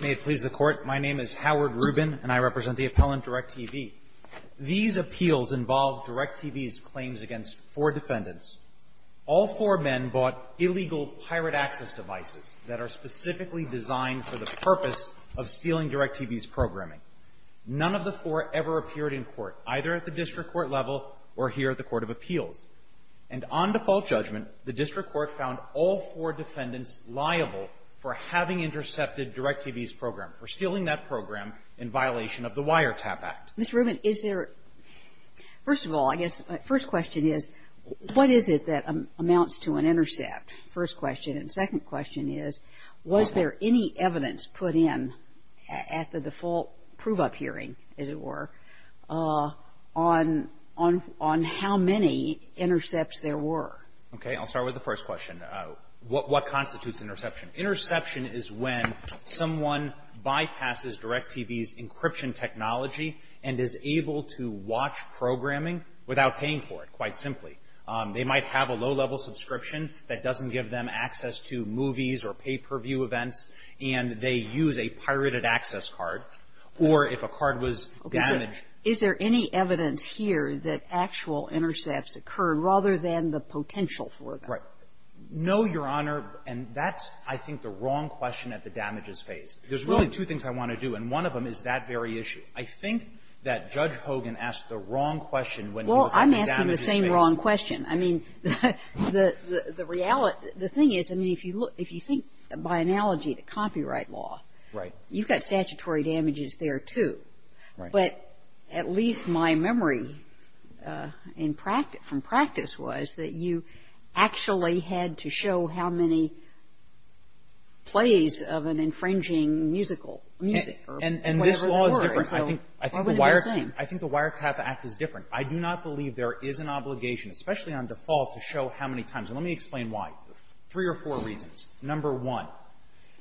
May it please the Court, my name is Howard Rubin, and I represent the appellant, Directv. These appeals involved Directv's claims against four defendants. All four men bought illegal pirate access devices that are specifically designed for the purpose of stealing Directv's programming. None of the four ever appeared in court, either at the district court level or here at the Court of Appeals. And on default judgment, the district court found all four defendants liable for having intercepted Directv's program, for stealing that program in violation of the Wiretap Act. Ms. Rubin, is there – first of all, I guess my first question is, what is it that amounts to an intercept, first question? And second question is, was there any evidence put in at the default prove-up hearing, as it were, on how many intercepts there were? Okay. I'll start with the first question. What constitutes an interception? Interception is when someone bypasses Directv's encryption technology and is able to watch programming without paying for it, quite simply. They might have a low-level subscription that doesn't give them access to movies or pay-per-view events, and they use a pirated access card. Or if a card was damaged Is there any evidence here that actual intercepts occur rather than the potential for them? Right. No, Your Honor. And that's, I think, the wrong question at the damages phase. There's really two things I want to do, and one of them is that very issue. I think that Judge Hogan asked the wrong question when he was at the damages phase. Well, I'm asking the same wrong question. I mean, the reality – the thing is, I mean, if you look – if you think by analogy to copyright law, you've got statutory damages there, too. Right. But at least my memory in practice – from practice was that you actually had to show how many plays of an infringing musical – music or whatever it was, so why would it be the same? I think the Wireclap Act is different. I do not believe there is an obligation, especially on default, to show how many times. And let me explain why. Three or four reasons. Number one,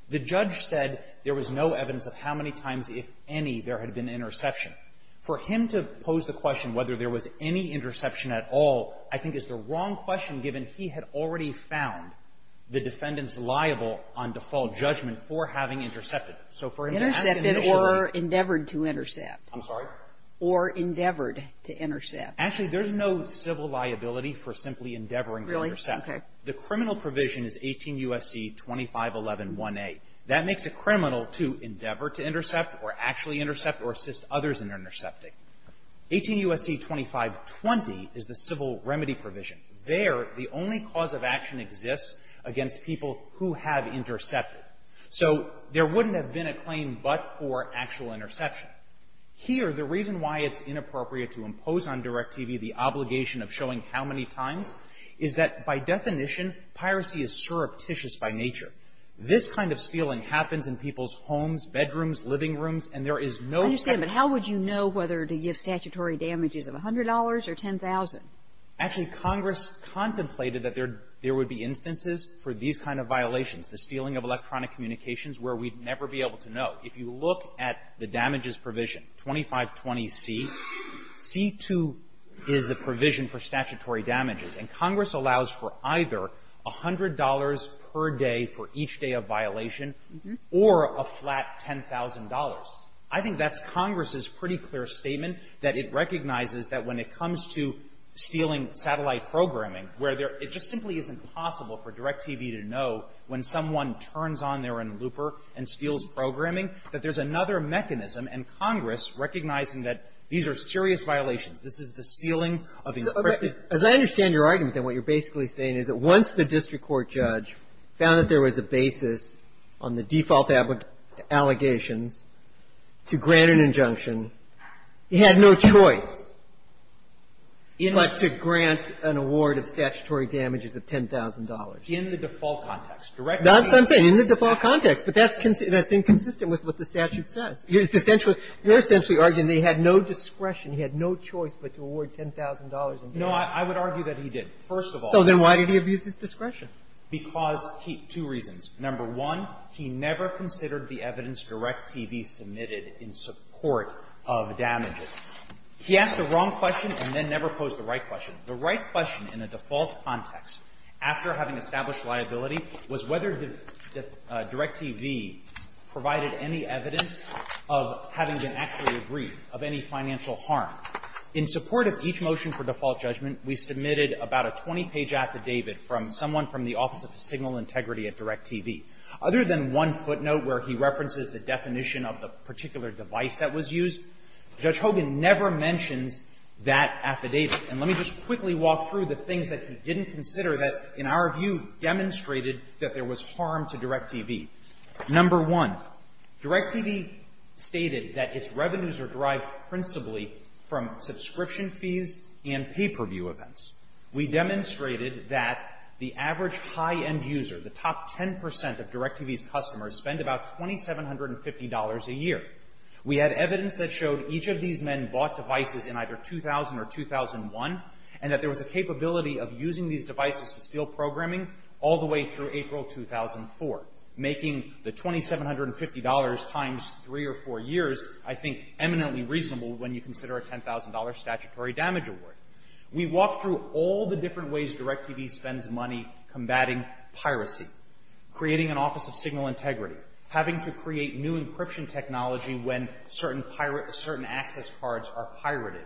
the judge said there was no evidence of how many times, if any, there had been interception. For him to pose the question whether there was any interception at all, I think, is the wrong question, given he had already found the defendant's liable on default judgment for having intercepted. So for him to ask an issue like that – Intercepted or endeavored to intercept. I'm sorry? Or endeavored to intercept. Actually, there's no civil liability for simply endeavoring to intercept. Really? Okay. The criminal provision is 18 U.S.C. 25111A. That makes a criminal to endeavor to intercept, or actually intercept, or assist others in intercepting. 18 U.S.C. 2520 is the civil remedy provision. There, the only cause of action exists against people who have intercepted. So there wouldn't have been a claim but for actual interception. Here, the reason why it's inappropriate to impose on DirecTV the obligation of showing how many times is that, by definition, piracy is surreptitious by nature. This kind of stealing happens in people's homes, bedrooms, living rooms, and there is no – I understand. But how would you know whether to give statutory damages of $100 or $10,000? Actually, Congress contemplated that there would be instances for these kind of violations, the stealing of electronic communications, where we'd never be able to know. If you look at the damages provision, 2520C, C-2 is the provision for statutory damages. I think that's Congress's pretty clear statement, that it recognizes that when it comes to stealing satellite programming, where there – it just simply isn't possible for DirecTV to know when someone turns on their own looper and steals programming, that there's another mechanism, and Congress recognizing that these are serious violations. This is the stealing of encrypted – As I understand your argument, then, what you're basically saying is that once the found that there was a basis on the default allegations to grant an injunction, he had no choice but to grant an award of statutory damages of $10,000. In the default context. That's what I'm saying. In the default context. But that's inconsistent with what the statute says. You're essentially arguing that he had no discretion, he had no choice but to award $10,000 in damages. No, I would argue that he did, first of all. So then why did he abuse his discretion? Because he – two reasons. Number one, he never considered the evidence DirecTV submitted in support of damages. He asked the wrong question and then never posed the right question. The right question in a default context, after having established liability, was whether DirecTV provided any evidence of having been actually aggrieved of any financial harm. In support of each motion for default judgment, we submitted about a 20-page affidavit from someone from the Office of Signal Integrity at DirecTV. Other than one footnote where he references the definition of the particular device that was used, Judge Hogan never mentions that affidavit. And let me just quickly walk through the things that he didn't consider that, in our view, demonstrated that there was harm to DirecTV. Number one, DirecTV stated that its revenues are derived principally from subscription fees and pay-per-view events. We demonstrated that the average high-end user, the top 10 percent of DirecTV's customers, spend about $2,750 a year. We had evidence that showed each of these men bought devices in either 2000 or 2001, and that there was a capability of using these devices to steal programming all the way through April 2004, making the $2,750 times three or four years, I think, eminently reasonable when you consider a $10,000 statutory damage award. We walked through all the different ways DirecTV spends money combating piracy, creating an Office of Signal Integrity, having to create new encryption technology when certain access cards are pirated,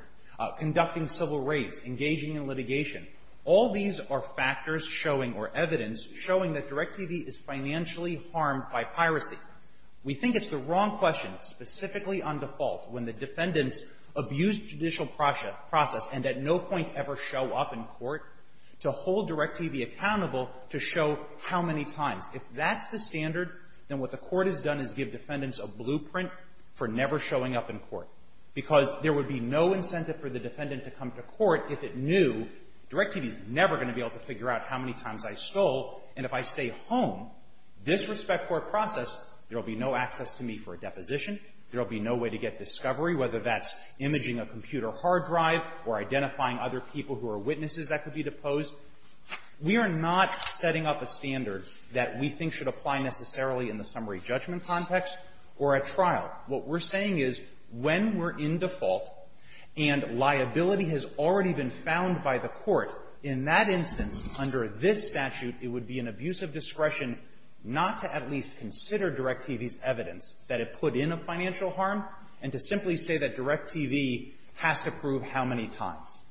conducting civil raids, engaging in litigation. All these are factors showing, or evidence, showing that DirecTV is financially harmed by piracy. We think it's the wrong question, specifically on default, when the defendants abuse judicial process and at no point ever show up in court, to hold DirecTV accountable to show how many times. If that's the standard, then what the court has done is give defendants a blueprint for never showing up in court, because there would be no incentive for the defendant to come to court if it knew DirecTV's never going to be able to figure out how many times I stole, and if I stay home, disrespect court process, there will be no access to me for a deposition, there will be no way to get discovery, whether that's imaging a computer hard drive or identifying other people who are witnesses that could be deposed. We are not setting up a standard that we think should apply necessarily in the summary judgment context or a trial. What we're saying is when we're in default and liability has already been found by the court, in that instance, under this statute, it would be an abuse of discretion not to at least consider DirecTV's evidence that it put in a financial harm and to simply say that DirecTV has to prove how many times.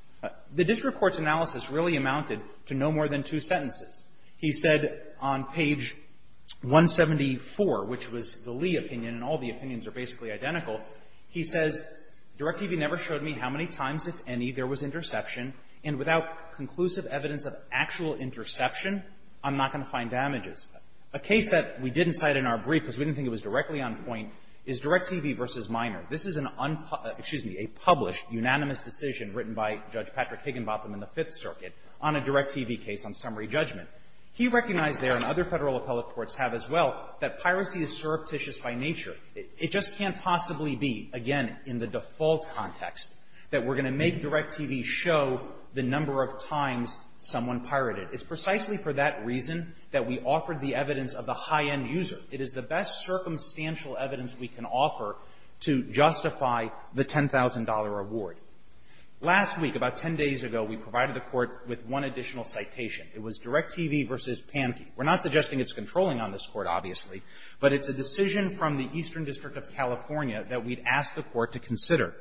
The district court's analysis really amounted to no more than two sentences. He said on page 174, which was the Lee opinion, and all the opinions are basically identical, he says, DirecTV never showed me how many times, if any, there was interception, and without conclusive evidence of actual interception, I'm not going to find damages. A case that we didn't cite in our brief because we didn't think it was directly on point is DirecTV v. Minor. This is an unpub --" excuse me, a published, unanimous decision written by Judge Patrick Higginbotham in the Fifth Circuit on a DirecTV case on summary judgment. He recognized there, and other Federal appellate courts have as well, that piracy is surreptitious by nature. It just can't possibly be, again, in the default context, that we're going to make a decision about the number of times someone pirated. It's precisely for that reason that we offered the evidence of the high-end user. It is the best circumstantial evidence we can offer to justify the $10,000 award. Last week, about 10 days ago, we provided the Court with one additional citation. It was DirecTV v. Panki. We're not suggesting it's controlling on this Court, obviously, but it's a decision from the Eastern District of California that we'd asked the Court to consider.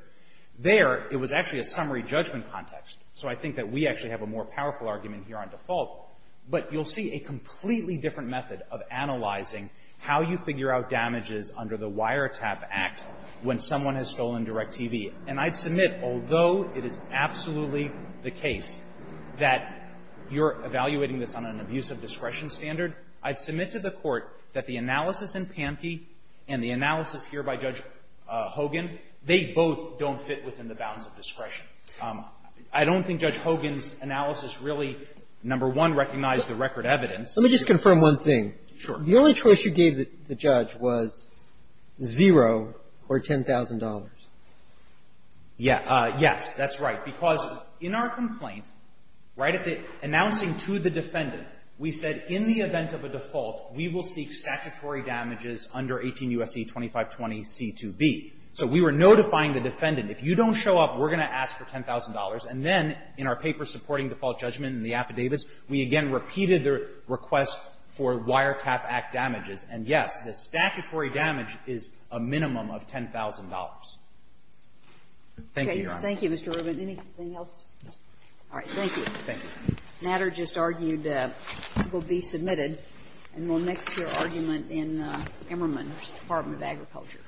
There, it was actually a summary judgment context. So I think that we actually have a more powerful argument here on default. But you'll see a completely different method of analyzing how you figure out damages under the Wiretap Act when someone has stolen DirecTV. And I'd submit, although it is absolutely the case that you're evaluating this on an abuse of discretion standard, I'd submit to the Court that the analysis in Panki and the analysis here by Judge Hogan, they both don't fit within the bounds of discretion. I don't think Judge Hogan's analysis really, number one, recognized the record evidence. Let me just confirm one thing. Sure. The only choice you gave the judge was zero or $10,000. Yes. Yes, that's right, because in our complaint, right at the announcing to the defendant, we said in the event of a default, we will seek statutory damages under 18 U.S.C. 2520C2B. So we were notifying the defendant, if you don't show up, we're going to ask for $10,000. And then in our paper supporting default judgment in the affidavits, we again repeated the request for Wiretap Act damages. And, yes, the statutory damage is a minimum of $10,000. Thank you, Your Honor. Thank you, Mr. Rubin. Anything else? No. All right. Thank you. Thank you. The matter just argued will be submitted and will mix to your argument in Emmerman's Department of Agriculture.